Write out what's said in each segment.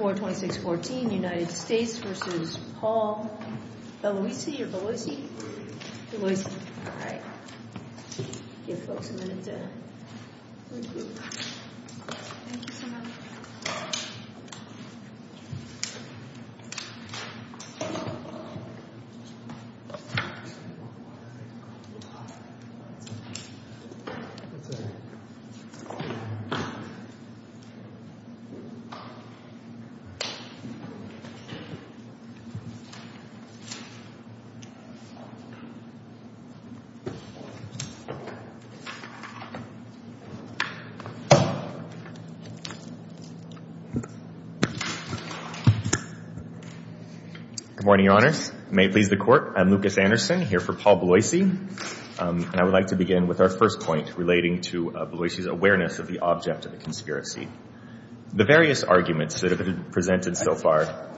or Belloisi? Belloisi. All right. Give folks a minute to recruit. Thank you so much. Good morning, Your Honors. May it please the Court, I'm Lucas Anderson here for Paul Belloisi. And I would like to begin with our first point relating to Belloisi's awareness of the object of a conspiracy. The various arguments that have been presented so far.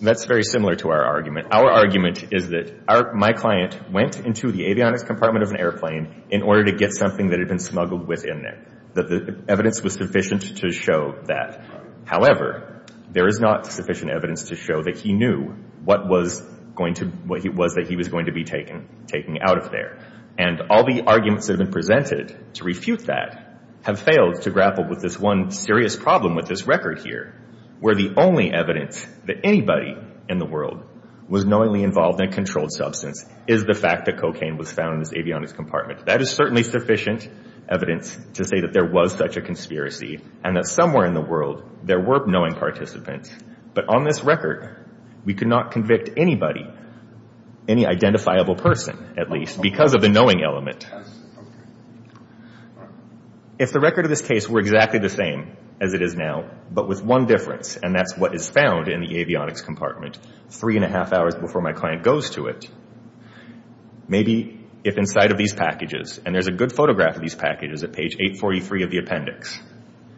That's very similar to our argument. Our argument is that my client went into the avionics compartment of an airplane in order to get something that had been smuggled within there. That the evidence was sufficient to show that. However, there is not sufficient evidence to show that he knew what was going to, what it was that he was going to be taking out of there. And all the arguments that have been presented to refute that have failed to grapple with this one serious problem with this record here. Where the only evidence that anybody in the world was knowingly involved in a controlled substance is the fact that cocaine was found in this avionics compartment. That is certainly sufficient evidence to say that there was such a conspiracy and that somewhere in the world there were knowing participants. But on this record, we could not convict anybody, any identifiable person at least, because of the knowing element. If the record of this case were exactly the same as it is now, but with one difference, and that's what is found in the avionics compartment three and a half hours before my client goes to it. Maybe if inside of these packages, and there's a good photograph of these packages at page 843 of the appendix.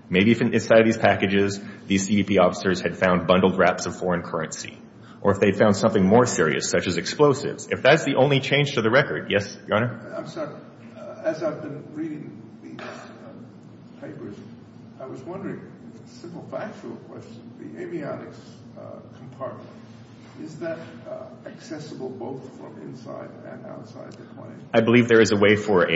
Maybe if inside of these packages, these CDP officers had found bundled wraps of foreign currency. Or if they found something more serious, such as explosives. If that's the only change to the record. Yes, Your Honor? I'm sorry. As I've been reading these papers, I was wondering, simple factual question. The avionics compartment, is that accessible both from inside and outside the plane? I believe there is a way for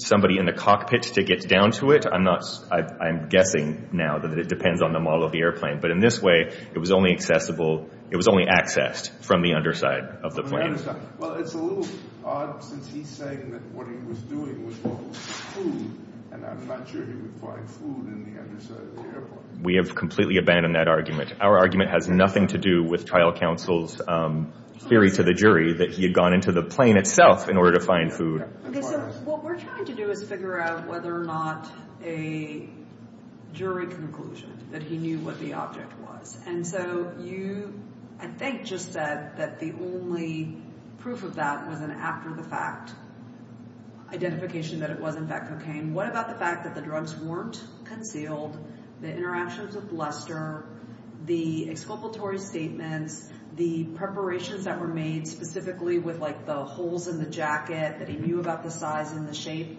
somebody in the cockpit to get down to it. I'm guessing now that it depends on the model of the airplane. But in this way, it was only accessible, it was only accessed from the underside of the plane. Well, it's a little odd since he's saying that what he was doing was looking for food, and I'm not sure he would find food in the underside of the airplane. We have completely abandoned that argument. Our argument has nothing to do with trial counsel's theory to the jury that he had gone into the plane itself in order to find food. Okay, so what we're trying to do is figure out whether or not a jury conclusion that he knew what the object was. And so you, I think, just said that the only proof of that was an after-the-fact identification that it was, in fact, cocaine. What about the fact that the drugs weren't concealed? The interactions with Lester, the exculpatory statements, the preparations that were made specifically with, like, the holes in the jacket that he knew about the size and the shape?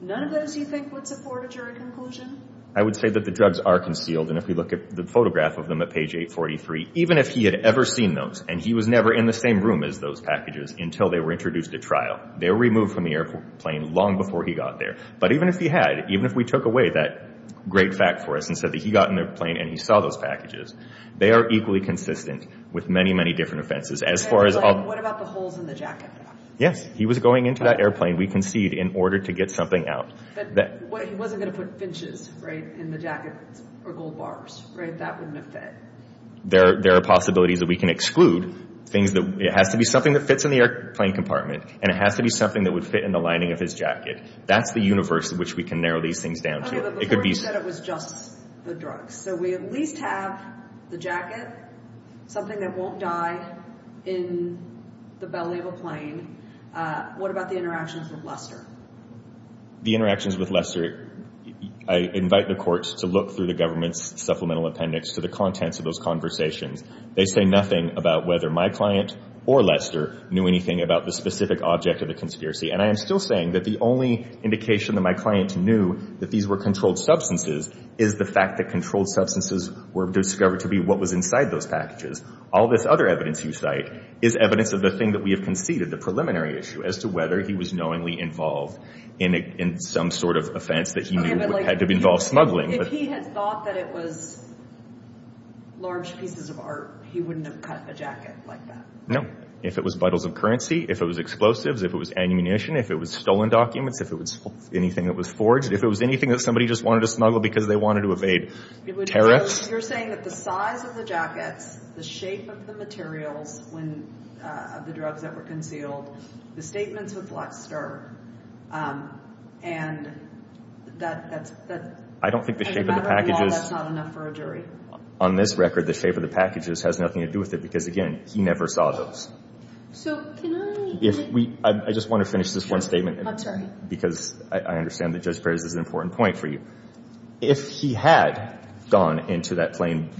None of those, you think, would support a jury conclusion? I would say that the drugs are concealed, and if we look at the photograph of them at page 843, even if he had ever seen those, and he was never in the same room as those packages until they were introduced at trial, they were removed from the airplane long before he got there. But even if he had, even if we took away that great fact for us and said that he got in the airplane and he saw those packages, they are equally consistent with many, many different offenses. Okay, but what about the holes in the jacket? Yes, he was going into that airplane, we concede, in order to get something out. But he wasn't going to put finches, right, in the jacket or gold bars, right? That wouldn't have fit. There are possibilities that we can exclude things that, it has to be something that fits in the airplane compartment, and it has to be something that would fit in the lining of his jacket. That's the universe in which we can narrow these things down to. Okay, but before you said it was just the drugs. So we at least have the jacket, something that won't die in the belly of a plane. What about the interactions with Lester? The interactions with Lester, I invite the courts to look through the government's supplemental appendix to the contents of those conversations. They say nothing about whether my client or Lester knew anything about the specific object of the conspiracy. And I am still saying that the only indication that my client knew that these were controlled substances is the fact that controlled substances were discovered to be what was inside those packages. All this other evidence you cite is evidence of the thing that we have conceded, the preliminary issue, as to whether he was knowingly involved in some sort of offense that he knew had to involve smuggling. If he had thought that it was large pieces of art, he wouldn't have cut the jacket like that. No. If it was bottles of currency, if it was explosives, if it was ammunition, if it was stolen documents, if it was anything that was forged, if it was anything that somebody just wanted to smuggle because they wanted to evade tariffs. You're saying that the size of the jackets, the shape of the materials of the drugs that were concealed, the statements with Lester, and that as a matter of law, that's not enough for a jury? On this record, the shape of the packages has nothing to do with it because, again, he never saw those. I just want to finish this one statement. I'm sorry. Because I understand that Judge Perez is an important point for you. If he had gone into that plane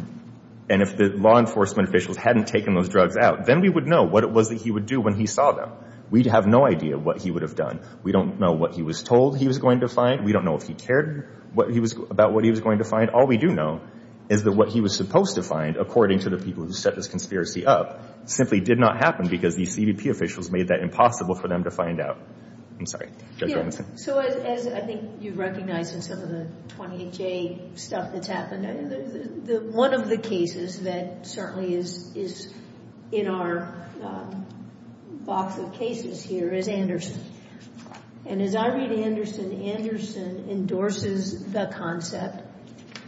and if the law enforcement officials hadn't taken those drugs out, then we would know what it was that he would do when he saw them. We'd have no idea what he would have done. We don't know what he was told he was going to find. We don't know if he cared about what he was going to find. All we do know is that what he was supposed to find, according to the people who set this conspiracy up, simply did not happen because these CBP officials made that impossible for them to find out. I'm sorry. Judge Robinson. So as I think you recognize in some of the 28J stuff that's happened, one of the cases that certainly is in our box of cases here is Anderson. And as I read Anderson, Anderson endorses the concept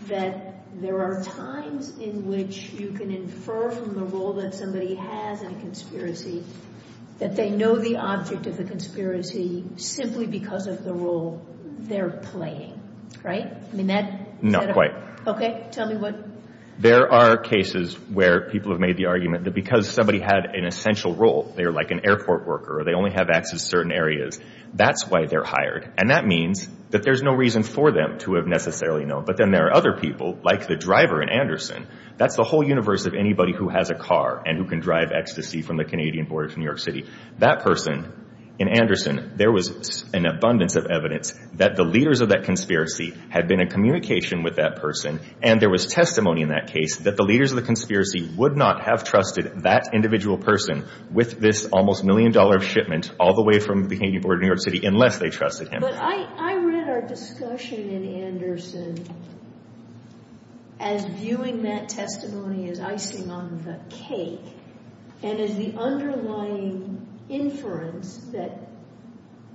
that there are times in which you can infer from the role that somebody has in a conspiracy that they know the object of the conspiracy simply because of the role they're playing. Right? Not quite. Okay. Tell me what? There are cases where people have made the argument that because somebody had an essential role, they're like an airport worker or they only have access to certain areas, that's why they're hired. And that means that there's no reason for them to have necessarily known. But then there are other people, like the driver in Anderson. That's the whole universe of anybody who has a car and who can drive ecstasy from the Canadian border to New York City. That person in Anderson, there was an abundance of evidence that the leaders of that conspiracy had been in communication with that person, and there was testimony in that case that the leaders of the conspiracy would not have trusted that individual person with this almost million-dollar shipment all the way from the Canadian border to New York City unless they trusted him. But I read our discussion in Anderson as viewing that testimony as icing on the cake and as the underlying inference that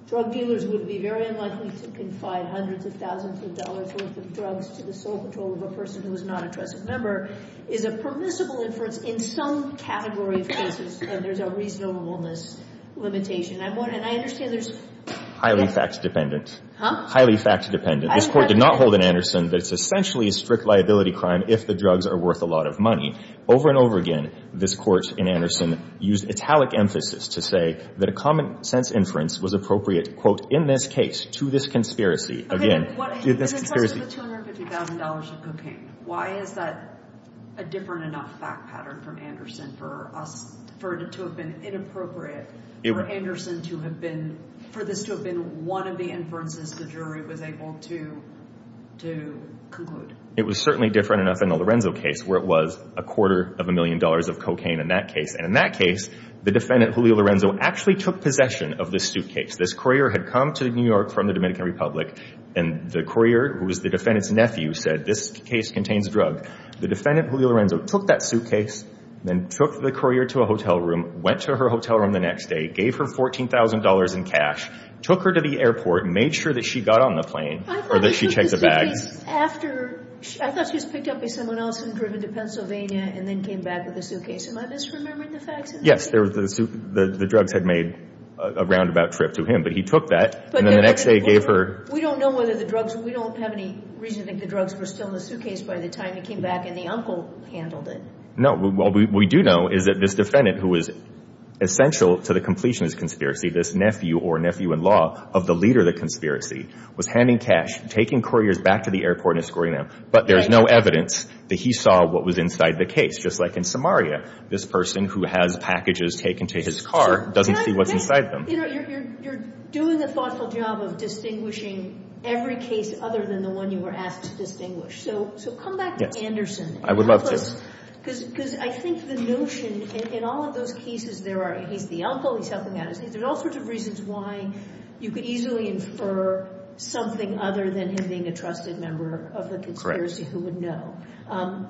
drug dealers would be very unlikely to confide hundreds of thousands of dollars' worth of drugs to the sole control of a person who is not a trusted member is a permissible inference in some category of cases where there's a reasonableness limitation. And I understand there's— Highly fact-dependent. Huh? Highly fact-dependent. This Court did not hold in Anderson that it's essentially a strict liability crime if the drugs are worth a lot of money. Over and over again, this Court in Anderson used italic emphasis to say that a common-sense inference was appropriate, quote, in this case, to this conspiracy. Okay, what— To this conspiracy. This question of the $250,000 of cocaine, why is that a different enough fact pattern from Anderson for us— for it to have been inappropriate for Anderson to have been— for this to have been one of the inferences the jury was able to conclude? It was certainly different enough in the Lorenzo case where it was a quarter of a million dollars of cocaine in that case. And in that case, the defendant, Julio Lorenzo, actually took possession of this suitcase. This courier had come to New York from the Dominican Republic, and the courier, who was the defendant's nephew, said, this case contains drug. The defendant, Julio Lorenzo, took that suitcase, then took the courier to a hotel room, went to her hotel room the next day, gave her $14,000 in cash, took her to the airport and made sure that she got on the plane or that she checked the bags. I thought she took the suitcase after—I thought she was picked up by someone else and driven to Pennsylvania and then came back with the suitcase. Am I misremembering the facts of the case? Yes. The drugs had made a roundabout trip to him. But he took that, and then the next day gave her— We don't know whether the drugs—we don't have any reason to think the drugs were still in the suitcase by the time he came back, and the uncle handled it. No. What we do know is that this defendant, who was essential to the completions conspiracy, this nephew or nephew-in-law of the leader of the conspiracy, was handing cash, taking couriers back to the airport and escorting them. But there is no evidence that he saw what was inside the case. Just like in Samaria, this person who has packages taken to his car doesn't see what's inside them. You're doing a thoughtful job of distinguishing every case other than the one you were asked to distinguish. So come back to Anderson. I would love to. Because I think the notion in all of those cases there are—he's the uncle, he's helping out his niece. There's all sorts of reasons why you could easily infer something other than him being a trusted member of the conspiracy who would know.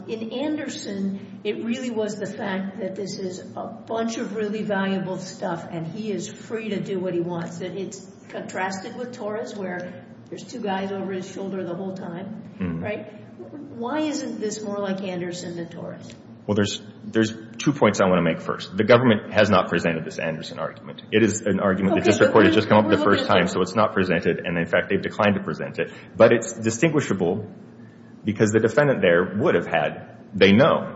In Anderson, it really was the fact that this is a bunch of really valuable stuff, and he is free to do what he wants. It's contrasted with Torres, where there's two guys over his shoulder the whole time. Right? Why isn't this more like Anderson than Torres? Well, there's two points I want to make first. The government has not presented this Anderson argument. It is an argument that just came up the first time, so it's not presented. And, in fact, they've declined to present it. But it's distinguishable because the defendant there would have had, they know,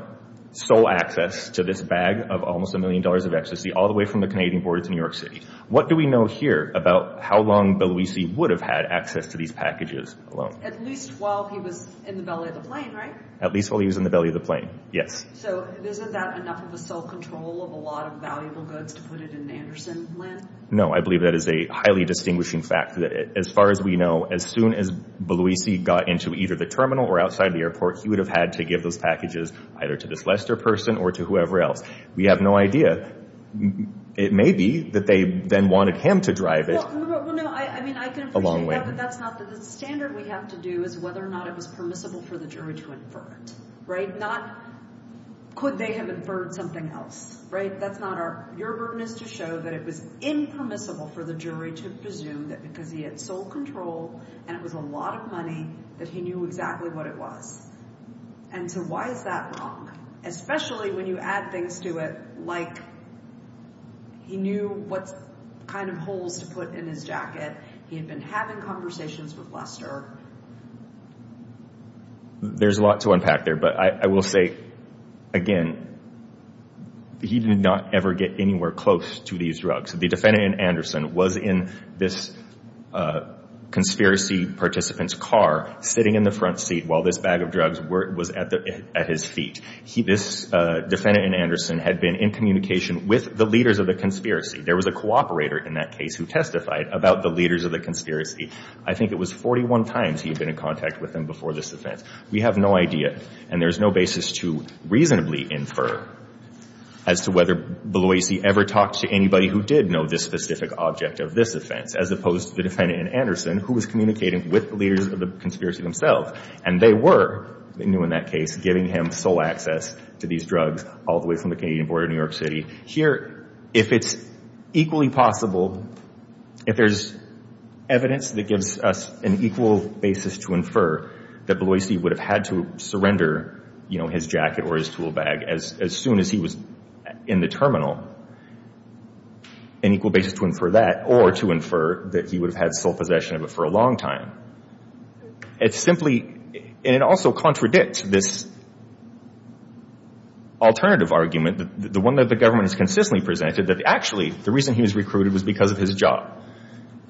sole access to this bag of almost a million dollars of ecstasy all the way from the Canadian border to New York City. What do we know here about how long Bill Luisi would have had access to these packages alone? At least while he was in the belly of the plane, right? At least while he was in the belly of the plane, yes. So isn't that enough of a sole control of a lot of valuable goods to put it in Anderson land? No, I believe that is a highly distinguishing fact. As far as we know, as soon as Bill Luisi got into either the terminal or outside the airport, he would have had to give those packages either to this Lester person or to whoever else. We have no idea. It may be that they then wanted him to drive it. Well, no, I mean, I can appreciate that. But that's not the standard we have to do is whether or not it was permissible for the jury to infer it, right? Not could they have inferred something else, right? Your burden is to show that it was impermissible for the jury to presume that because he had sole control and it was a lot of money that he knew exactly what it was. And so why is that wrong? Especially when you add things to it like he knew what kind of holes to put in his jacket. He had been having conversations with Lester. There's a lot to unpack there. But I will say, again, he did not ever get anywhere close to these drugs. The defendant in Anderson was in this conspiracy participant's car, sitting in the front seat while this bag of drugs was at his feet. This defendant in Anderson had been in communication with the leaders of the conspiracy. There was a cooperator in that case who testified about the leaders of the conspiracy. I think it was 41 times he had been in contact with them before this offense. We have no idea. And there's no basis to reasonably infer as to whether Beloisi ever talked to anybody who did know this specific object of this offense, as opposed to the defendant in Anderson who was communicating with the leaders of the conspiracy themselves. And they were, they knew in that case, giving him sole access to these drugs, all the way from the Canadian border to New York City. Here, if it's equally possible, if there's evidence that gives us an equal basis to infer that Beloisi would have had to surrender, you know, his jacket or his tool bag as soon as he was in the terminal, an equal basis to infer that, or to infer that he would have had sole possession of it for a long time. It's simply, and it also contradicts this alternative argument, the one that the government has consistently presented, that actually the reason he was recruited was because of his job.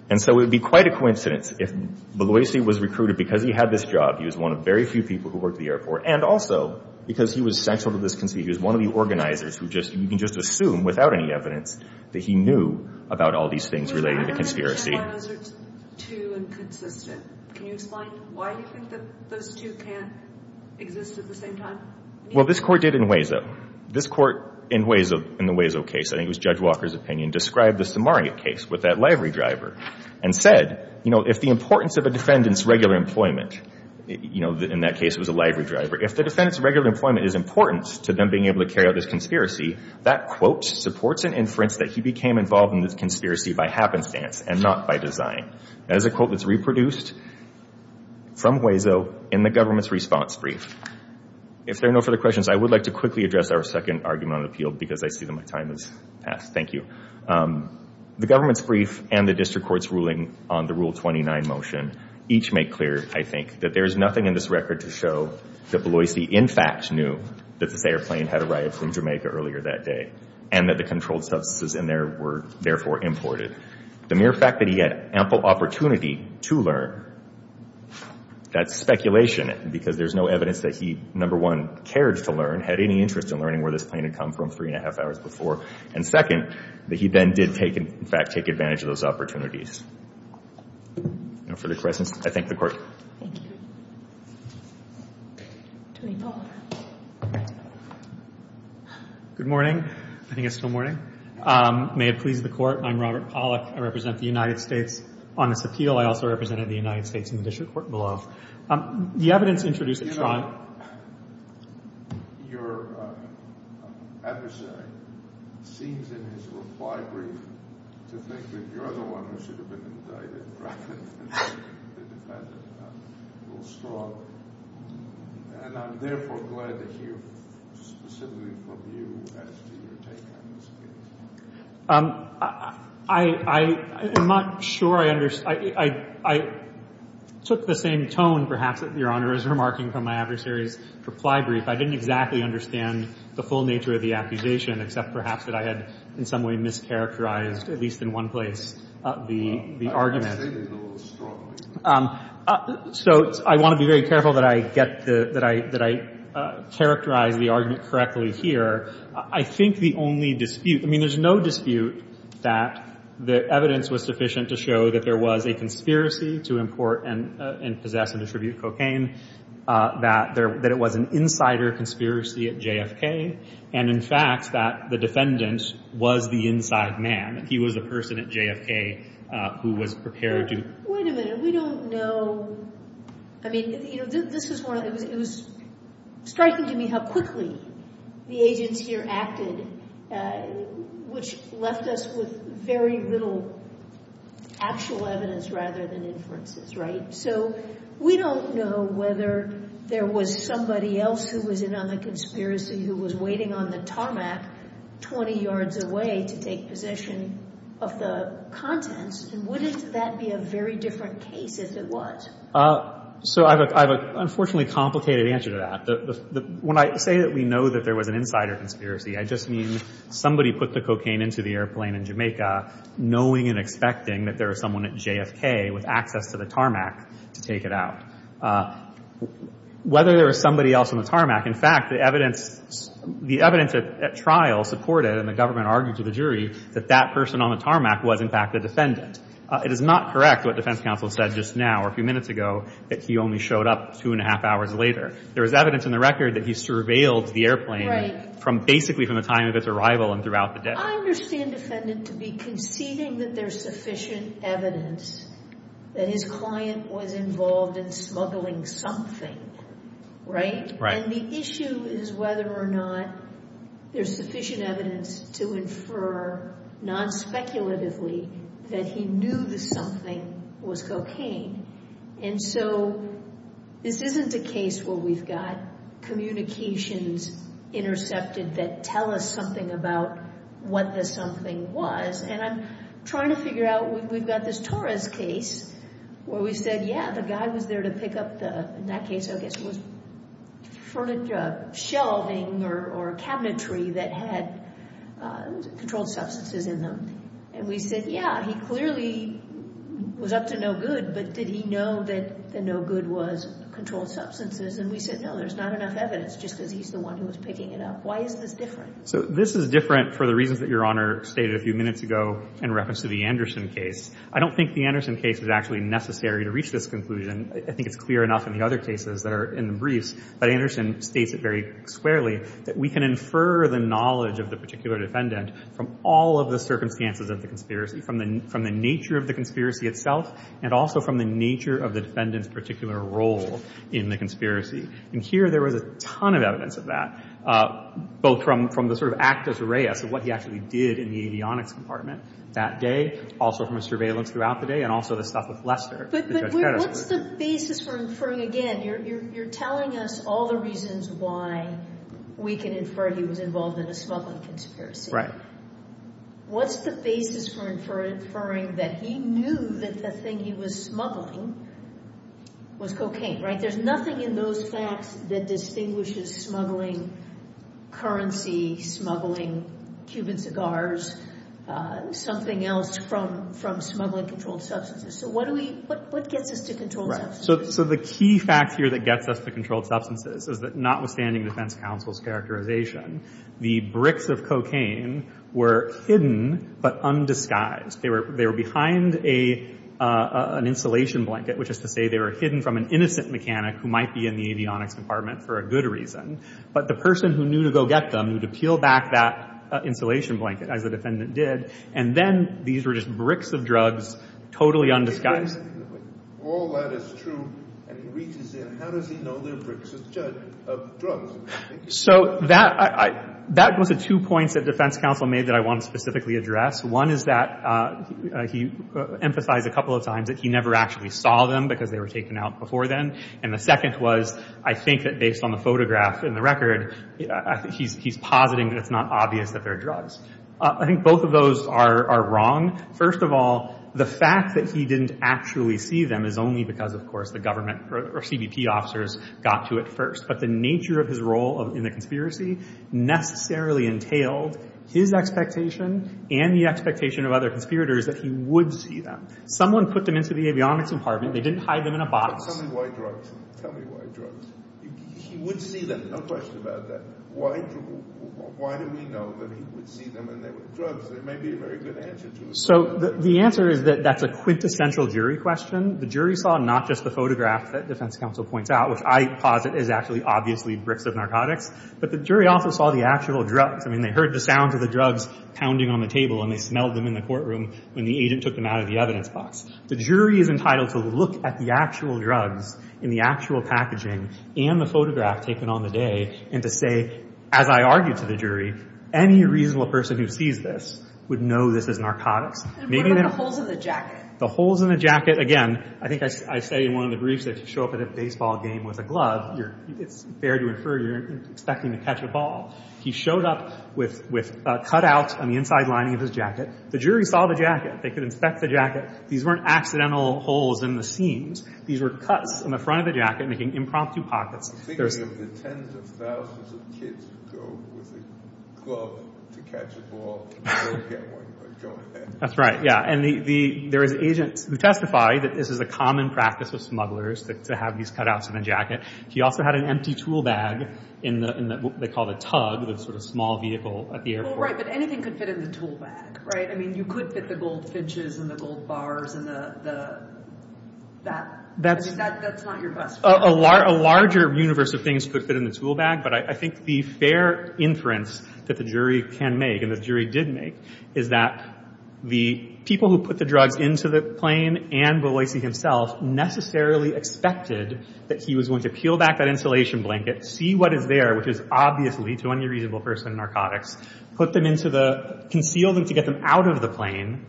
And so it would be quite a coincidence if Beloisi was recruited because he had this job, he was one of very few people who worked at the airport, and also because he was central to this conspiracy. He was one of the organizers who just, you can just assume, without any evidence, that he knew about all these things related to conspiracy. Well, this Court did in Hueso. This Court in Hueso, in the Hueso case, I think it was Judge Walker's opinion, described the Samaria case with that livery driver and said, you know, if the importance of a defendant's regular employment, you know, in that case it was a livery driver, if the defendant's regular employment is important to them being able to carry out this conspiracy, that quote supports an inference that he became involved in this conspiracy by happenstance and not by design. That is a quote that's reproduced from Hueso in the government's response brief. If there are no further questions, I would like to quickly address our second argument on appeal because I see that my time has passed. Thank you. The government's brief and the district court's ruling on the Rule 29 motion each make clear, I think, that there is nothing in this record to show that Beloisi, in fact, knew that this airplane had arrived from Jamaica earlier that day and that the controlled substances in there were therefore imported. The mere fact that he had ample opportunity to learn, that's speculation because there's no evidence that he, number one, cared to learn, had any interest in learning where this plane had come from three and a half hours before, and second, that he then did take, in fact, take advantage of those opportunities. No further questions? I thank the Court. Thank you. Tony Palmer. Good morning. I think it's still morning. May it please the Court. I'm Robert Pollack. I represent the United States on this appeal. I also represented the United States in the district court below. The evidence introduced at trial. Your adversary seems in his reply brief to think that you're the one who should have been indicted rather than the defendant. And I'm therefore glad to hear specifically from you as to your take on this case. I'm not sure I understand. I took the same tone, perhaps, that Your Honor is remarking from my adversary's reply brief. I didn't exactly understand the full nature of the accusation, except perhaps that I had in some way mischaracterized, at least in one place, the argument. So I want to be very careful that I get the – that I characterize the argument correctly here. I think the only dispute – I mean, there's no dispute that the evidence was sufficient to show that there was a conspiracy to import and possess and distribute cocaine, that there – that it was an insider conspiracy at JFK, and, in fact, that the defendant was the inside man. He was the person at JFK who was prepared to – Wait a minute. We don't know – I mean, you know, this was one of – it was striking to me how quickly the agents here acted, which left us with very little actual evidence rather than inferences, right? So we don't know whether there was somebody else who was in on the conspiracy who was waiting on the tarmac 20 yards away to take possession of the contents, and wouldn't that be a very different case if it was? So I have an unfortunately complicated answer to that. When I say that we know that there was an insider conspiracy, I just mean somebody put the cocaine into the airplane in Jamaica, knowing and expecting that there was someone at JFK with access to the tarmac to take it out. Whether there was somebody else on the tarmac – in fact, the evidence – the evidence at trial supported, and the government argued to the jury, that that person on the tarmac was, in fact, the defendant. It is not correct what defense counsel said just now or a few minutes ago, that he only showed up two and a half hours later. There was evidence in the record that he surveilled the airplane from – basically from the time of its arrival and throughout the day. I understand defendant to be conceding that there's sufficient evidence that his client was involved in smuggling something, right? Right. And the issue is whether or not there's sufficient evidence to infer, non-speculatively, that he knew the something was cocaine. And so this isn't a case where we've got communications intercepted that tell us something about what the something was. And I'm trying to figure out – we've got this Torres case where we said, yeah, the guy was there to pick up the – in that case, I guess it was furniture – shelving or cabinetry that had controlled substances in them. And we said, yeah, he clearly was up to no good, but did he know that the no good was controlled substances? And we said, no, there's not enough evidence, just because he's the one who was picking it up. Why is this different? So this is different for the reasons that Your Honor stated a few minutes ago in reference to the Anderson case. I don't think the Anderson case is actually necessary to reach this conclusion. I think it's clear enough in the other cases that are in the briefs, but Anderson states it very squarely, that we can infer the knowledge of the particular defendant from all of the circumstances of the conspiracy, from the nature of the conspiracy itself, and also from the nature of the defendant's particular role in the conspiracy. And here there was a ton of evidence of that, both from the sort of actus reus of what he actually did in the avionics compartment that day, also from his surveillance throughout the day, and also the stuff with Lester. But what's the basis for inferring again? You're telling us all the reasons why we can infer he was involved in a smuggling conspiracy. Right. What's the basis for inferring that he knew that the thing he was smuggling was cocaine? Right? There's nothing in those facts that distinguishes smuggling currency, smuggling Cuban cigars, something else from smuggling controlled substances. So what gets us to controlled substances? Right. So the key fact here that gets us to controlled substances is that notwithstanding defense counsel's characterization, the bricks of cocaine were hidden but undisguised. They were behind an insulation blanket, which is to say they were hidden from an innocent mechanic who might be in the avionics compartment for a good reason, but the person who knew to go get them knew to peel back that insulation blanket, as the defendant did, and then these were just bricks of drugs totally undisguised. If all that is true and he reaches in, how does he know they're bricks of drugs? So that was the two points that defense counsel made that I want to specifically address. One is that he emphasized a couple of times that he never actually saw them because they were taken out before then, and the second was I think that based on the photograph and the record, he's positing that it's not obvious that they're drugs. I think both of those are wrong. First of all, the fact that he didn't actually see them is only because, of course, the government or CBP officers got to it first, but the nature of his role in the conspiracy necessarily entailed his expectation and the expectation of other conspirators that he would see them. Someone put them into the avionics compartment. They didn't hide them in a box. Tell me why drugs. Tell me why drugs. He would see them. No question about that. Why do we know that he would see them and they were drugs? There may be a very good answer to it. So the answer is that that's a quintessential jury question. The jury saw not just the photograph that defense counsel points out, which I posit is actually obviously bricks of narcotics, but the jury also saw the actual drugs. I mean, they heard the sounds of the drugs pounding on the table and they smelled them in the courtroom when the agent took them out of the evidence box. The jury is entitled to look at the actual drugs in the actual packaging and the photograph taken on the day and to say, as I argued to the jury, any reasonable person who sees this would know this is narcotics. And what about the holes in the jacket? The holes in the jacket, again, I think I say in one of the briefs that if you show up at a baseball game with a glove, it's fair to infer you're expecting to catch a ball. He showed up with a cutout on the inside lining of his jacket. The jury saw the jacket. They could inspect the jacket. These weren't accidental holes in the seams. These were cuts in the front of the jacket making impromptu pockets. I'm thinking of the tens of thousands of kids who go with a glove to catch a ball and never get one but go ahead. That's right, yeah. And there is agents who testify that this is a common practice of smugglers to have these cutouts in a jacket. He also had an empty tool bag in what they call the tug, the sort of small vehicle at the airport. Well, right, but anything could fit in the tool bag, right? I mean, you could fit the gold finches and the gold bars and the that. I mean, that's not your best friend. A larger universe of things could fit in the tool bag, but I think the fair inference that the jury can make and the jury did make is that the people who put the drugs into the plane and Boise himself necessarily expected that he was going to peel back that insulation blanket, see what is there, which is obviously, to any reasonable person, narcotics, put them into the, conceal them to get them out of the plane,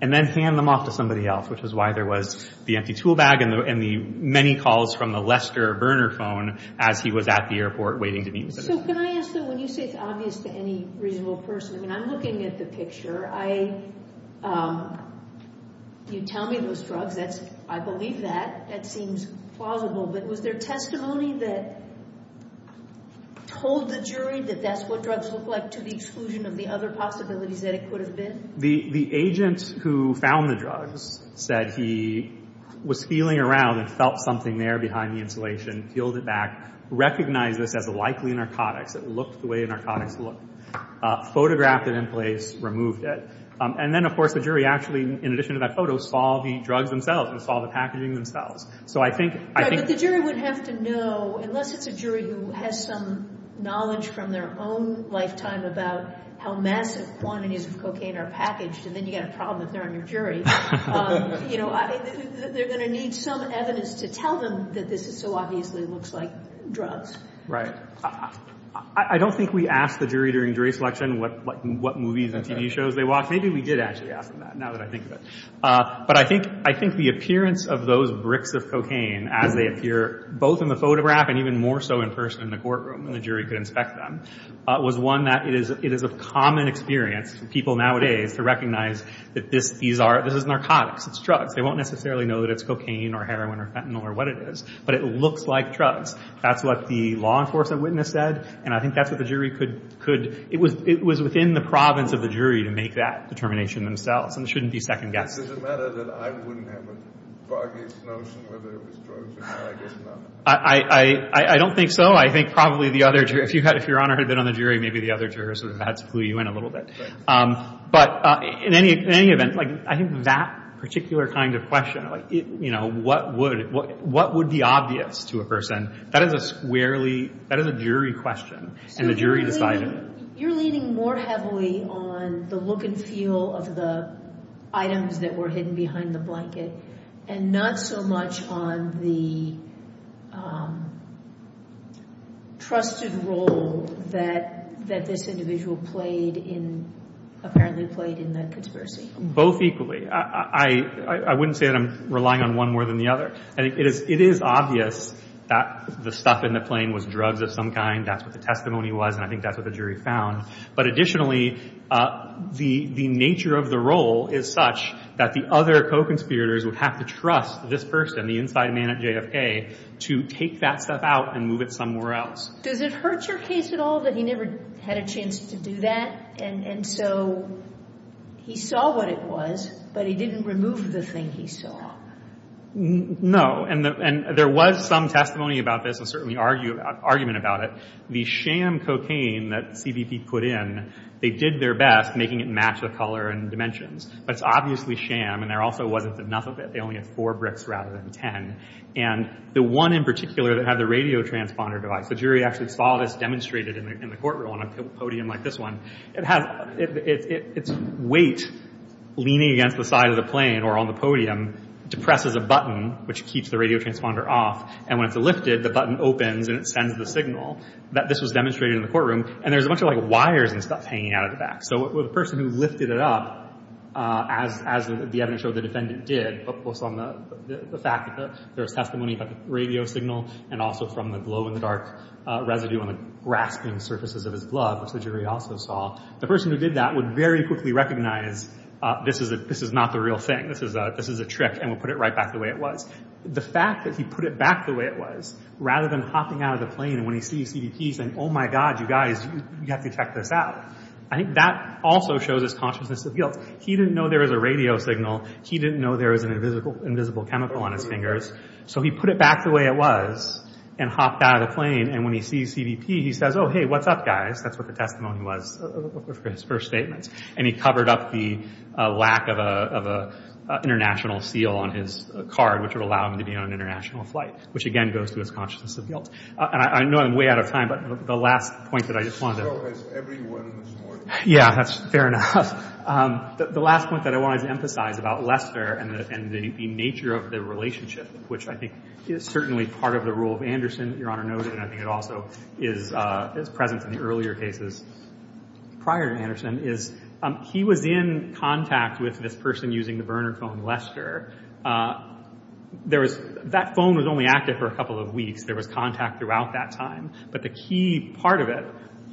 and then hand them off to somebody else, which is why there was the empty tool bag and the many calls from the Lester burner phone as he was at the airport waiting to meet the citizen. So can I ask though, when you say it's obvious to any reasonable person, I mean, I'm looking at the picture. You tell me those drugs. I believe that. That seems plausible. But was there testimony that told the jury that that's what drugs look like to the exclusion of the other possibilities that it could have been? The agent who found the drugs said he was feeling around and felt something there behind the insulation, peeled it back, recognized this as a likely narcotics. It looked the way narcotics look. Photographed it in place, removed it. And then, of course, the jury actually, in addition to that photo, saw the drugs themselves and saw the packaging themselves. So I think the jury would have to know, unless it's a jury who has some knowledge from their own lifetime about how massive quantities of cocaine are packaged, and then you've got a problem if they're on your jury, they're going to need some evidence to tell them that this so obviously looks like drugs. Right. I don't think we asked the jury during jury selection what movies and TV shows they watched. Maybe we did actually ask them that, now that I think of it. But I think the appearance of those bricks of cocaine as they appear, both in the photograph and even more so in person in the courtroom when the jury could inspect them, was one that it is a common experience for people nowadays to recognize that this is narcotics. It's drugs. They won't necessarily know that it's cocaine or heroin or fentanyl or what it is. But it looks like drugs. That's what the law enforcement witness said. And I think that's what the jury could – it was within the province of the jury to make that determination themselves. And it shouldn't be second-guessed. Is it a matter that I wouldn't have a foggiest notion whether it was drugs or not? I guess not. I don't think so. I think probably the other – if Your Honor had been on the jury, maybe the other jurors would have had to clue you in a little bit. But in any event, I think that particular kind of question, what would be obvious to a person, that is a squarely – that is a jury question. And the jury decided. You're leaning more heavily on the look and feel of the items that were hidden behind the blanket and not so much on the trusted role that this individual played in – apparently played in that conspiracy. Both equally. I wouldn't say that I'm relying on one more than the other. It is obvious that the stuff in the plane was drugs of some kind. That's what the testimony was, and I think that's what the jury found. But additionally, the nature of the role is such that the other co-conspirators would have to trust this person, the inside man at JFK, to take that stuff out and move it somewhere else. Does it hurt your case at all that he never had a chance to do that? And so he saw what it was, but he didn't remove the thing he saw. And there was some testimony about this and certainly argument about it. The sham cocaine that CBP put in, they did their best making it match the color and dimensions. But it's obviously sham, and there also wasn't enough of it. They only had four bricks rather than ten. And the one in particular that had the radio transponder device, the jury actually saw this demonstrated in the court room on a podium like this one. Its weight leaning against the side of the plane or on the podium depresses a button which keeps the radio transponder off. And when it's lifted, the button opens and it sends the signal that this was demonstrated in the courtroom. And there's a bunch of wires and stuff hanging out of the back. So the person who lifted it up, as the evidence showed the defendant did, was on the fact that there was testimony about the radio signal and also from the glow-in-the-dark residue on the grasping surfaces of his glove, which the jury also saw. The person who did that would very quickly recognize this is not the real thing. This is a trick, and would put it right back the way it was. The fact that he put it back the way it was rather than hopping out of the plane when he sees CBP saying, oh my God, you guys, you have to check this out. I think that also shows his consciousness of guilt. He didn't know there was a radio signal. He didn't know there was an invisible chemical on his fingers. So he put it back the way it was and hopped out of the plane. And when he sees CBP, he says, oh, hey, what's up, guys? That's what the testimony was for his first statements. And he covered up the lack of an international seal on his card, which would allow him to be on an international flight, which again goes to his consciousness of guilt. And I know I'm way out of time, but the last point that I just wanted to— This show has everyone this morning. Yeah, that's fair enough. The last point that I wanted to emphasize about Lester and the nature of the relationship, which I think is certainly part of the rule of Anderson, Your Honor noted, and I think it also is present in the earlier cases prior to Anderson, is he was in contact with this person using the burner phone, Lester. That phone was only active for a couple of weeks. There was contact throughout that time. But the key part of it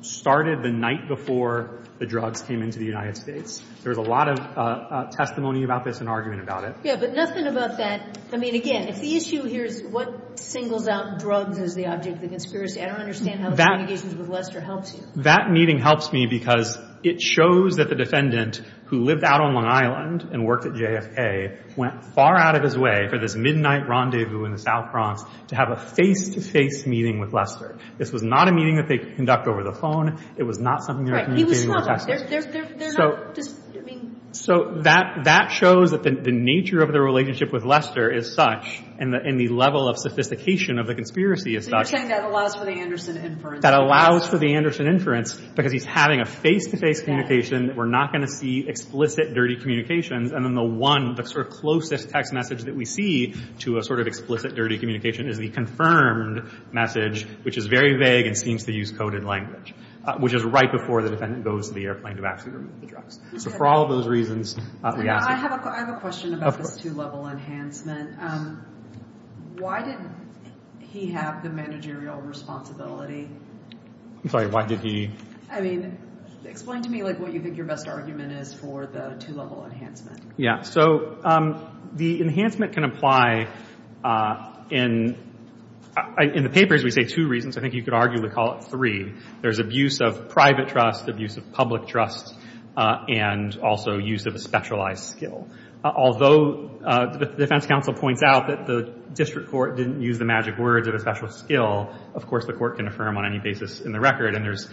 started the night before the drugs came into the United States. There was a lot of testimony about this and argument about it. Yeah, but nothing about that— I mean, again, if the issue here is what singles out drugs as the object of the conspiracy, I don't understand how the communications with Lester helps you. That meeting helps me because it shows that the defendant, who lived out on Long Island and worked at JFK, went far out of his way for this midnight rendezvous in the South Bronx to have a face-to-face meeting with Lester. This was not a meeting that they conduct over the phone. It was not something they were communicating over text messages. Right. He was smuggled. So that shows that the nature of their relationship with Lester is such and the level of sophistication of the conspiracy is such. So you're saying that allows for the Anderson inference. That allows for the Anderson inference because he's having a face-to-face communication that we're not going to see explicit dirty communications. And then the one, the sort of closest text message that we see to a sort of explicit dirty communication is the confirmed message, which is very vague and seems to use coded language, which is right before the defendant goes to the airplane to buy cigarettes. So for all those reasons, we ask you. I have a question about this two-level enhancement. Why didn't he have the managerial responsibility? I'm sorry. Why did he? I mean, explain to me what you think your best argument is for the two-level enhancement. Yeah. So the enhancement can apply in the papers. We say two reasons. I think you could arguably call it three. There's abuse of private trust, abuse of public trust, and also use of a specialized skill. Although the defense counsel points out that the district court didn't use the magic words of a special skill, of course the court can affirm on any basis in the record, and there's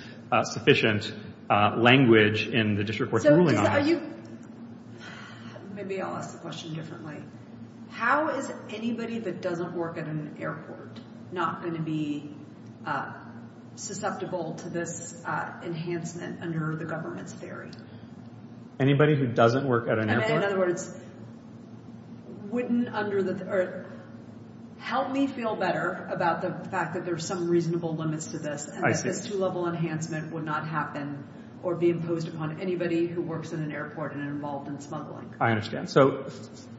sufficient language in the district court's ruling on that. So are you—maybe I'll ask the question differently. How is anybody that doesn't work at an airport not going to be susceptible to this enhancement under the government's theory? Anybody who doesn't work at an airport? In other words, wouldn't under the— or help me feel better about the fact that there's some reasonable limits to this. I see. And that this two-level enhancement would not happen or be imposed upon anybody who works in an airport and involved in smuggling. I understand. So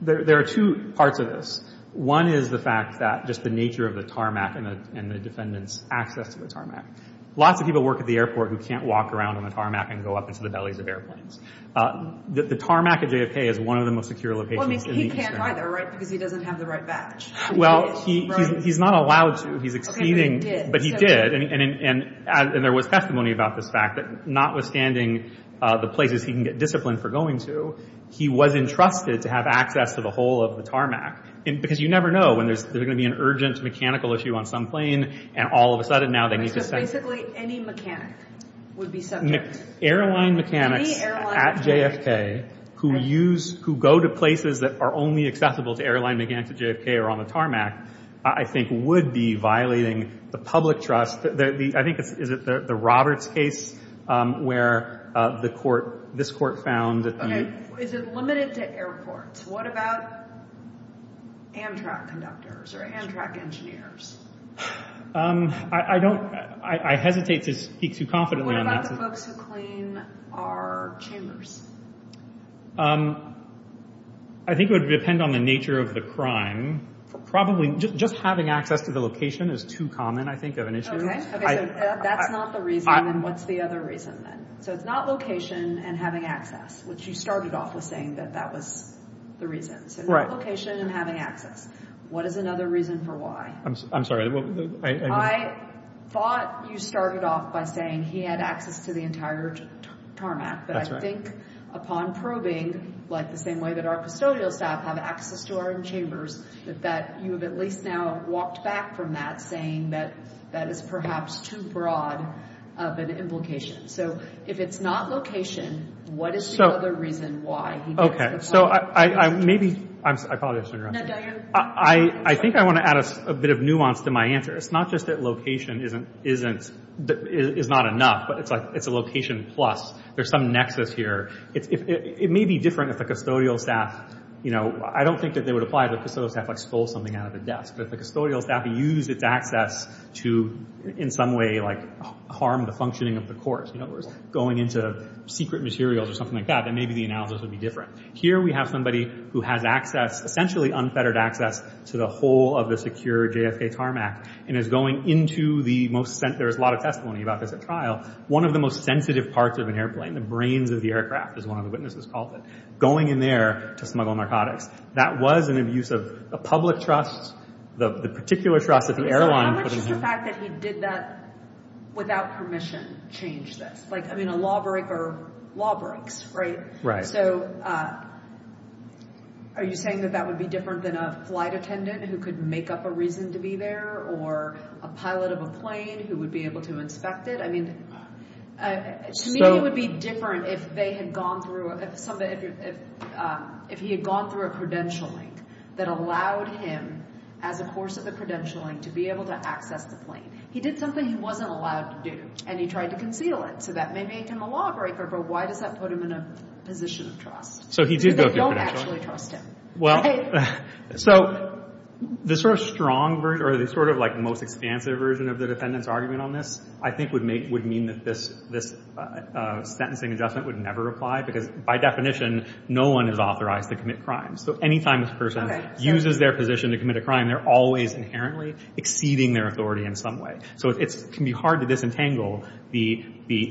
there are two parts of this. One is the fact that just the nature of the tarmac and the defendant's access to the tarmac. Lots of people work at the airport who can't walk around on the tarmac and go up into the bellies of airplanes. The tarmac at JFK is one of the most secure locations in the district. Well, he can't either, right, because he doesn't have the right badge. Well, he's not allowed to. He's exceeding— Okay, but he did. But he did, and there was testimony about this fact that notwithstanding the places he can get discipline for going to, he was entrusted to have access to the whole of the tarmac. Because you never know when there's going to be an urgent mechanical issue on some plane, and all of a sudden now they need to— So basically any mechanic would be subject. Airline mechanics at JFK who go to places that are only accessible to airline mechanics at JFK or on the tarmac, I think, would be violating the public trust. I think it's the Roberts case where this court found that the— Okay. Is it limited to airports? What about Amtrak conductors or Amtrak engineers? I don't—I hesitate to speak too confidently on that. What about the folks who clean our chambers? I think it would depend on the nature of the crime. Probably just having access to the location is too common, I think, of an issue. Okay, so that's not the reason, and what's the other reason then? So it's not location and having access, which you started off with saying that that was the reason. Right. So not location and having access. What is another reason for why? I'm sorry. I thought you started off by saying he had access to the entire tarmac. That's right. But I think upon probing, like the same way that our custodial staff have access to our chambers, that you have at least now walked back from that, saying that that is perhaps too broad of an implication. So if it's not location, what is the other reason why? Okay, so I maybe—I apologize for interrupting. No, go ahead. I think I want to add a bit of nuance to my answer. It's not just that location isn't—is not enough, but it's like it's a location plus. There's some nexus here. It may be different if the custodial staff, you know, I don't think that they would apply the custodial staff like stole something out of the desk, but if the custodial staff used its access to in some way like harm the functioning of the court, you know, or going into secret materials or something like that, then maybe the analysis would be different. Here we have somebody who has access, essentially unfettered access, to the whole of the secure JFK tarmac and is going into the most— there's a lot of testimony about this at trial. One of the most sensitive parts of an airplane, the brains of the aircraft, as one of the witnesses called it, going in there to smuggle narcotics. That was an abuse of a public trust, the particular trust that the airline put in him. How much is the fact that he did that without permission change this? Like, I mean, a law break or law breaks, right? Right. So are you saying that that would be different than a flight attendant who could make up a reason to be there or a pilot of a plane who would be able to inspect it? I mean, to me, it would be different if they had gone through— if he had gone through a credentialing that allowed him, as a course of the credentialing, to be able to access the plane. He did something he wasn't allowed to do, and he tried to conceal it. So that may make him a lawbreaker, but why does that put him in a position of trust? So he did go through a credentialing. They don't actually trust him. Well, so the sort of strong version, or the sort of, like, most expansive version of the defendant's argument on this, I think would mean that this sentencing adjustment would never apply because, by definition, no one is authorized to commit crimes. So any time this person uses their position to commit a crime, they're always inherently exceeding their authority in some way. So it can be hard to disentangle the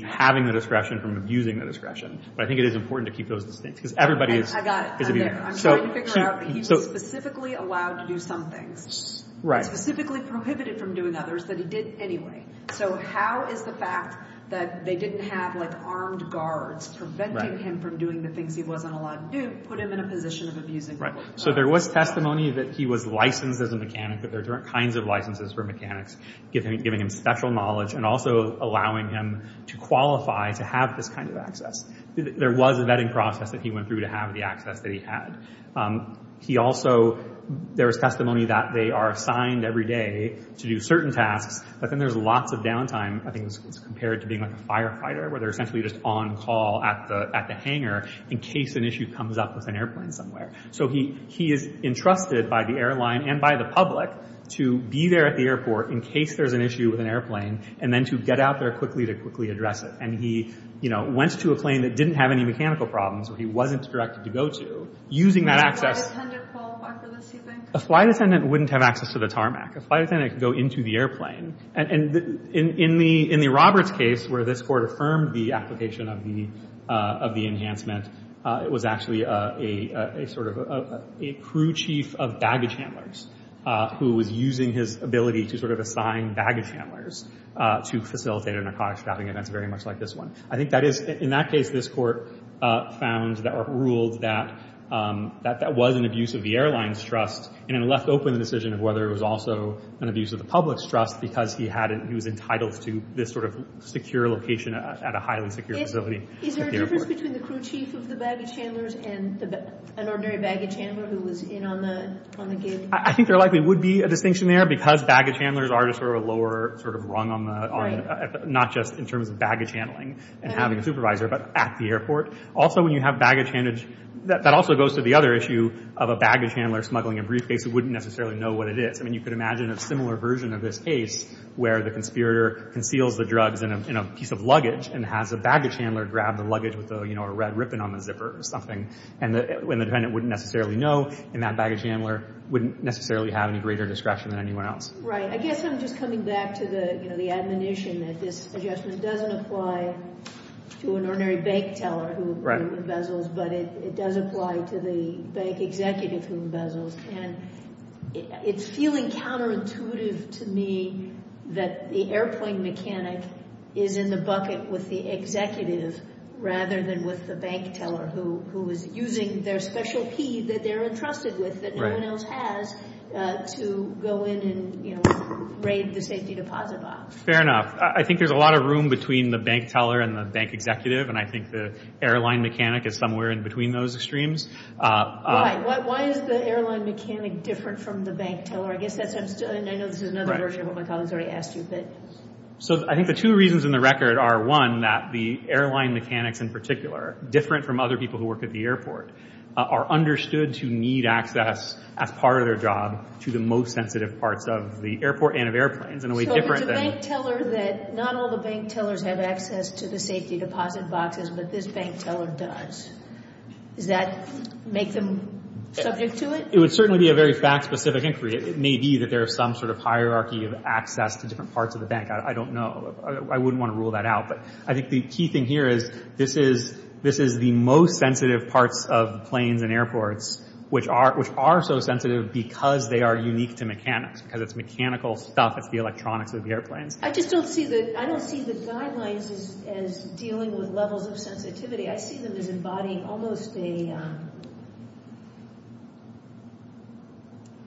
having the discretion from abusing the discretion, but I think it is important to keep those distincts because everybody is— I got it. I'm trying to figure out. He was specifically allowed to do some things. Right. He was specifically prohibited from doing others that he did anyway. So how is the fact that they didn't have, like, armed guards preventing him from doing the things he wasn't allowed to do put him in a position of abusing authority? Right. So there was testimony that he was licensed as a mechanic, that there are different kinds of licenses for mechanics, giving him special knowledge and also allowing him to qualify to have this kind of access. There was a vetting process that he went through to have the access that he had. He also—there was testimony that they are assigned every day to do certain tasks, but then there's lots of downtime, I think it's compared to being, like, a firefighter, where they're essentially just on call at the hangar in case an issue comes up with an airplane somewhere. So he is entrusted by the airline and by the public to be there at the airport in case there's an issue with an airplane and then to get out there quickly to quickly address it. And he, you know, went to a plane that didn't have any mechanical problems, so he wasn't directed to go to, using that access— Would a flight attendant qualify for this, do you think? A flight attendant wouldn't have access to the tarmac. A flight attendant could go into the airplane. And in the Roberts case, where this court affirmed the application of the enhancement, it was actually a sort of a crew chief of baggage handlers who was using his ability to sort of assign baggage handlers to facilitate a narcotics trafficking, and that's very much like this one. I think that is—in that case, this court found or ruled that that was an abuse of the airline's trust and then left open the decision of whether it was also an abuse of the public's trust because he was entitled to this sort of secure location at a highly secure facility at the airport. Is there a difference between the crew chief of the baggage handlers and an ordinary baggage handler who was in on the gig? I think there likely would be a distinction there because baggage handlers are just sort of a lower sort of rung on the— —not just in terms of baggage handling and having a supervisor, but at the airport. Also, when you have baggage handlers— That also goes to the other issue of a baggage handler smuggling a briefcase who wouldn't necessarily know what it is. I mean, you could imagine a similar version of this case where the conspirator conceals the drugs in a piece of luggage and has a baggage handler grab the luggage with a red ribbon on the zipper or something, and the defendant wouldn't necessarily know, and that baggage handler wouldn't necessarily have any greater discretion than anyone else. Right. I guess I'm just coming back to the admonition that this adjustment doesn't apply to an ordinary bank teller who embezzles, but it does apply to the bank executive who embezzles. And it's feeling counterintuitive to me that the airplane mechanic is in the bucket with the executive rather than with the bank teller who is using their special key that they're entrusted with, that no one else has, to go in and raid the safety deposit box. Fair enough. I think there's a lot of room between the bank teller and the bank executive, and I think the airline mechanic is somewhere in between those extremes. Why? Why is the airline mechanic different from the bank teller? I know this is another version of what my colleague has already asked you, but... So I think the two reasons in the record are, one, that the airline mechanics in particular, different from other people who work at the airport, are understood to need access as part of their job to the most sensitive parts of the airport and of airplanes in a way different than... Not all the bank tellers have access to the safety deposit boxes, but this bank teller does. Does that make them subject to it? It would certainly be a very fact-specific inquiry. It may be that there is some sort of hierarchy of access to different parts of the bank. I don't know. I wouldn't want to rule that out. But I think the key thing here is this is the most sensitive parts of planes and airports, which are so sensitive because they are unique to mechanics, because it's mechanical stuff, it's the electronics of the airplanes. I just don't see the guidelines as dealing with levels of sensitivity. I see them as embodying almost a...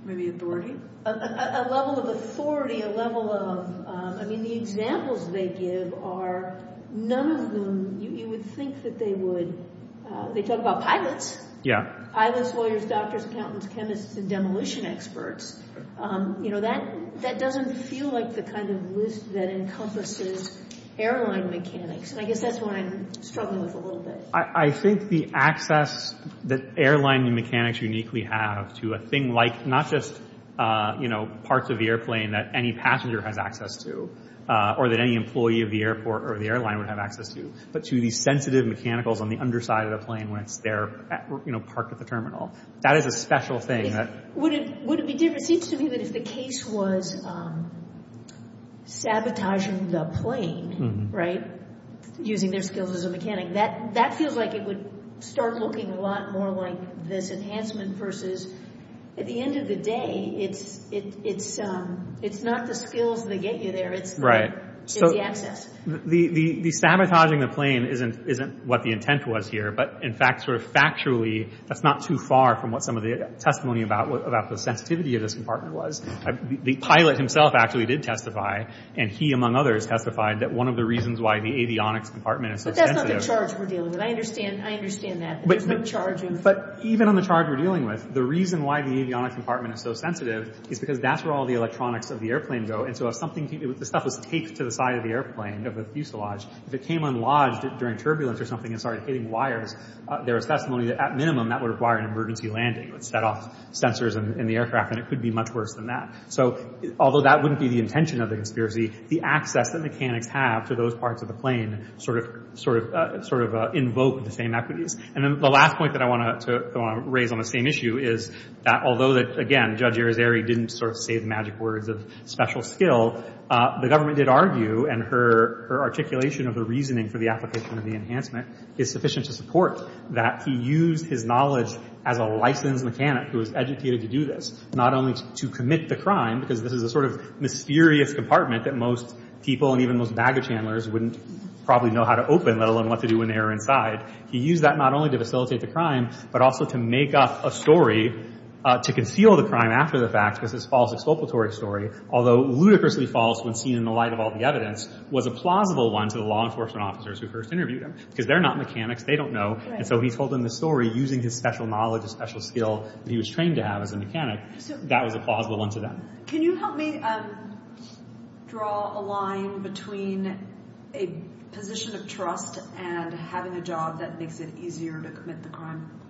Maybe authority? A level of authority, a level of... I mean, the examples they give are... None of them, you would think that they would... They talk about pilots. Pilots, lawyers, doctors, accountants, chemists, and demolition experts. That doesn't feel like the kind of list that encompasses airline mechanics, and I guess that's what I'm struggling with a little bit. I think the access that airline mechanics uniquely have to a thing like... Not just parts of the airplane that any passenger has access to or that any employee of the airport or the airline would have access to, but to the sensitive mechanicals on the underside of the plane when it's there parked at the terminal. That is a special thing that... Would it be different... It seems to me that if the case was sabotaging the plane, right, using their skills as a mechanic, that feels like it would start looking a lot more like this enhancement versus, at the end of the day, it's not the skills that get you there, it's the access. The sabotaging the plane isn't what the intent was here, but in fact, sort of factually, that's not too far from what some of the testimony about the sensitivity of this compartment was. The pilot himself actually did testify, and he, among others, testified that one of the reasons why the avionics compartment is so sensitive... But that's not the charge we're dealing with. I understand that. There's no charge involved. But even on the charge we're dealing with, the reason why the avionics compartment is so sensitive is because that's where all the electronics of the airplane go, and so if something... If the stuff was taped to the side of the airplane, of the fuselage, if it came unlodged during turbulence or something and started hitting wires, there was testimony that, at minimum, that would require an emergency landing. It would set off sensors in the aircraft, and it could be much worse than that. So, although that wouldn't be the intention of the conspiracy, the access that mechanics have to those parts of the plane sort of invoked the same equities. And then the last point that I want to raise on the same issue is that although that, again, Judge Arizari didn't sort of say the magic words of special skill, the government did argue, and her articulation of the reasoning for the application of the enhancement is sufficient to support that. He used his knowledge as a licensed mechanic who was educated to do this, not only to commit the crime, because this is a sort of mysterious compartment that most people, and even most baggage handlers, wouldn't probably know how to open, let alone what to do when they were inside. He used that not only to facilitate the crime, but also to make up a story to conceal the crime after the fact because it's a false exculpatory story, although ludicrously false when seen in the light of all the evidence, was a plausible one to the law enforcement officers who first interviewed him, because they're not mechanics. They don't know. And so he told them the story using his special knowledge, his special skill, that he was trained to have as a mechanic. That was a plausible one to them. Can you help me draw a line between a position of trust and having a job that makes it easier to commit the crime?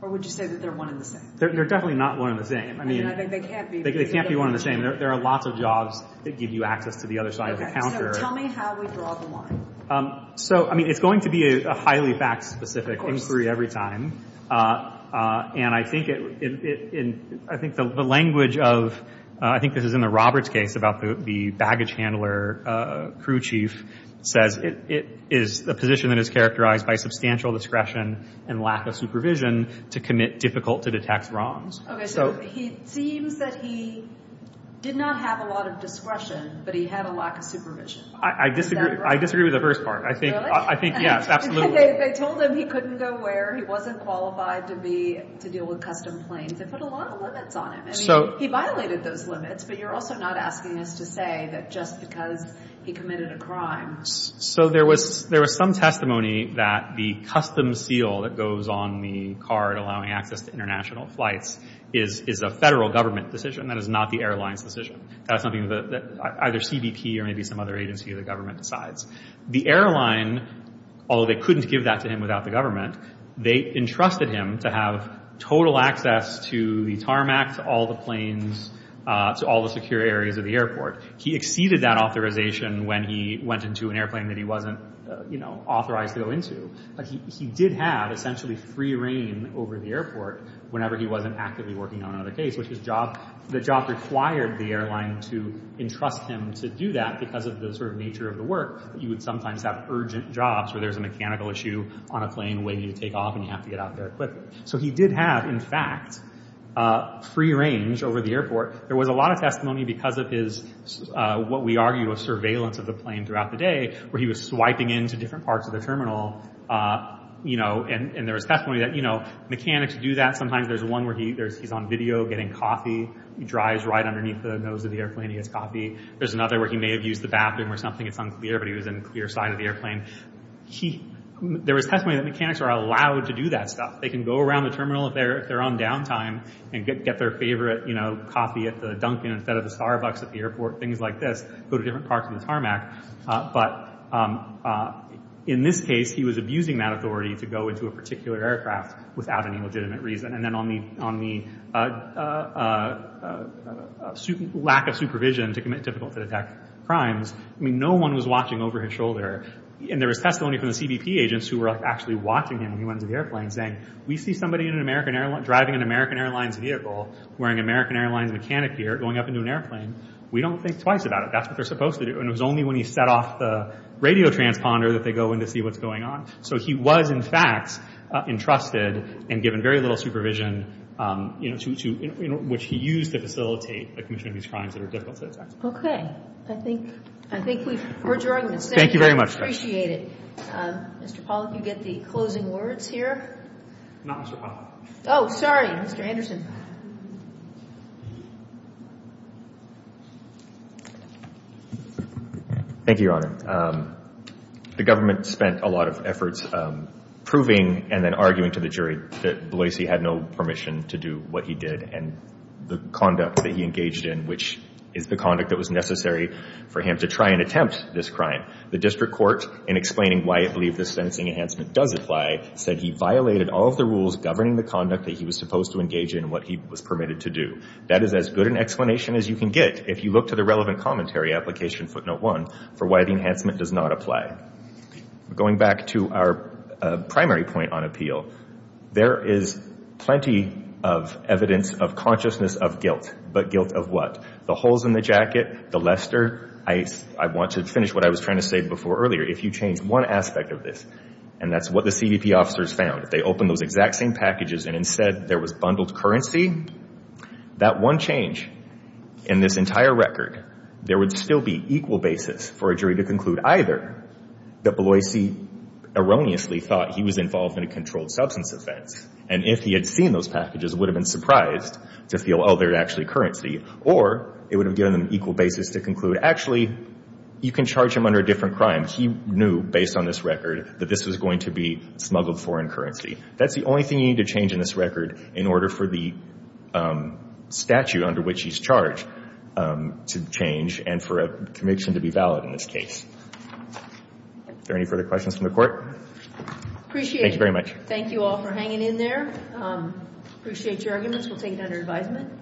Or would you say that they're one and the same? They're definitely not one and the same. I mean, they can't be one and the same. There are lots of jobs that give you access to the other side of the counter. Okay, so tell me how we draw the line. So, I mean, it's going to be a highly fact-specific inquiry every time. And I think it... I think the language of... I think this is in the Roberts case about the baggage handler crew chief says it is a position that is characterized by substantial discretion and lack of supervision to commit difficult-to-detect wrongs. Okay, so it seems that he did not have a lot of discretion, but he had a lack of supervision. Is that right? I disagree with the first part. Really? I think, yes, absolutely. They told him he couldn't go where... He wasn't qualified to deal with custom planes. They put a lot of limits on him. I mean, he violated those limits, but you're also not asking us to say that just because he committed a crime... So there was some testimony that the custom seal that goes on the card allowing access to international flights is a federal government decision. That is not the airline's decision. That's something that either CBP or maybe some other agency of the government decides. The airline, although they couldn't give that to him without the government, they entrusted him to have total access to the tarmac, to all the planes, to all the secure areas of the airport. He exceeded that authorization when he went into an airplane that he wasn't, you know, authorized to go into. But he did have, essentially, free reign over the airport whenever he wasn't actively working on another case, which the job required the airline to entrust him to do that because of the sort of nature of the work. You would sometimes have urgent jobs where there's a mechanical issue on a plane waiting to take off, and you have to get out there quickly. So he did have, in fact, free range over the airport. There was a lot of testimony because of his, what we argue, of surveillance of the plane throughout the day where he was swiping in to different parts of the terminal, you know, and there was testimony that, you know, mechanics do that. Sometimes there's one where he's on video getting coffee. He drives right underneath the nose of the airplane. He gets coffee. There's another where he may have used the bathroom or something, it's unclear, but he was in the clear side of the airplane. There was testimony that mechanics are allowed to do that stuff. They can go around the terminal if they're on downtime and get their favorite, you know, coffee at the Dunkin' instead of the Starbucks at the airport, things like this, go to different parts of the tarmac. But in this case, he was abusing that authority to go into a particular aircraft without any legitimate reason. And then on the lack of supervision to commit difficult-to-detect crimes, I mean, no one was watching over his shoulder. And there was testimony from the CBP agents who were actually watching him when he went into the airplane, saying, we see somebody driving an American Airlines vehicle wearing an American Airlines mechanic gear going up into an airplane. We don't think twice about it. That's what they're supposed to do. And it was only when he set off the radio transponder that they go in to see what's going on. So he was, in fact, entrusted and given very little supervision, you know, which he used to facilitate the commissioning of these crimes that are difficult to detect. Okay. I think we've heard your argument. Thank you very much. I appreciate it. Mr. Pollack, you get the closing words here? Not Mr. Pollack. Oh, sorry. Mr. Anderson. Thank you, Your Honor. The government spent a lot of efforts proving and then arguing to the jury that Bloise had no permission to do what he did and the conduct that he engaged in, which is the conduct that was necessary for him to try and attempt this crime. The district court, in explaining why it believed the sentencing enhancement does apply, said he violated all of the rules governing the conduct that he was supposed to engage in and what he was permitted to do. That is as good an explanation as you can get if you look to the relevant commentary application, footnote one, for why the enhancement does not apply. Going back to our primary point on appeal, there is plenty of evidence of consciousness of guilt. But guilt of what? The holes in the jacket? The Lester? I want to finish what I was trying to say before earlier. If you change one aspect of this, and that's what the CBP officers found, if they opened those exact same packages and instead there was bundled currency, that one change in this entire record, there would still be equal basis for a jury to conclude either that Beloisi erroneously thought he was involved in a controlled substance offense, and if he had seen those packages, would have been surprised to feel, oh, they're actually currency, or it would have given them equal basis to conclude, actually, you can charge him under a different crime. He knew, based on this record, that this was going to be smuggled foreign currency. That's the only thing you need to change in this record in order for the statute under which he's charged to change and for a conviction to be valid in this case. Are there any further questions from the court? Appreciate it. Thank you very much. Thank you all for hanging in there. Appreciate your arguments. We'll take it under advisement.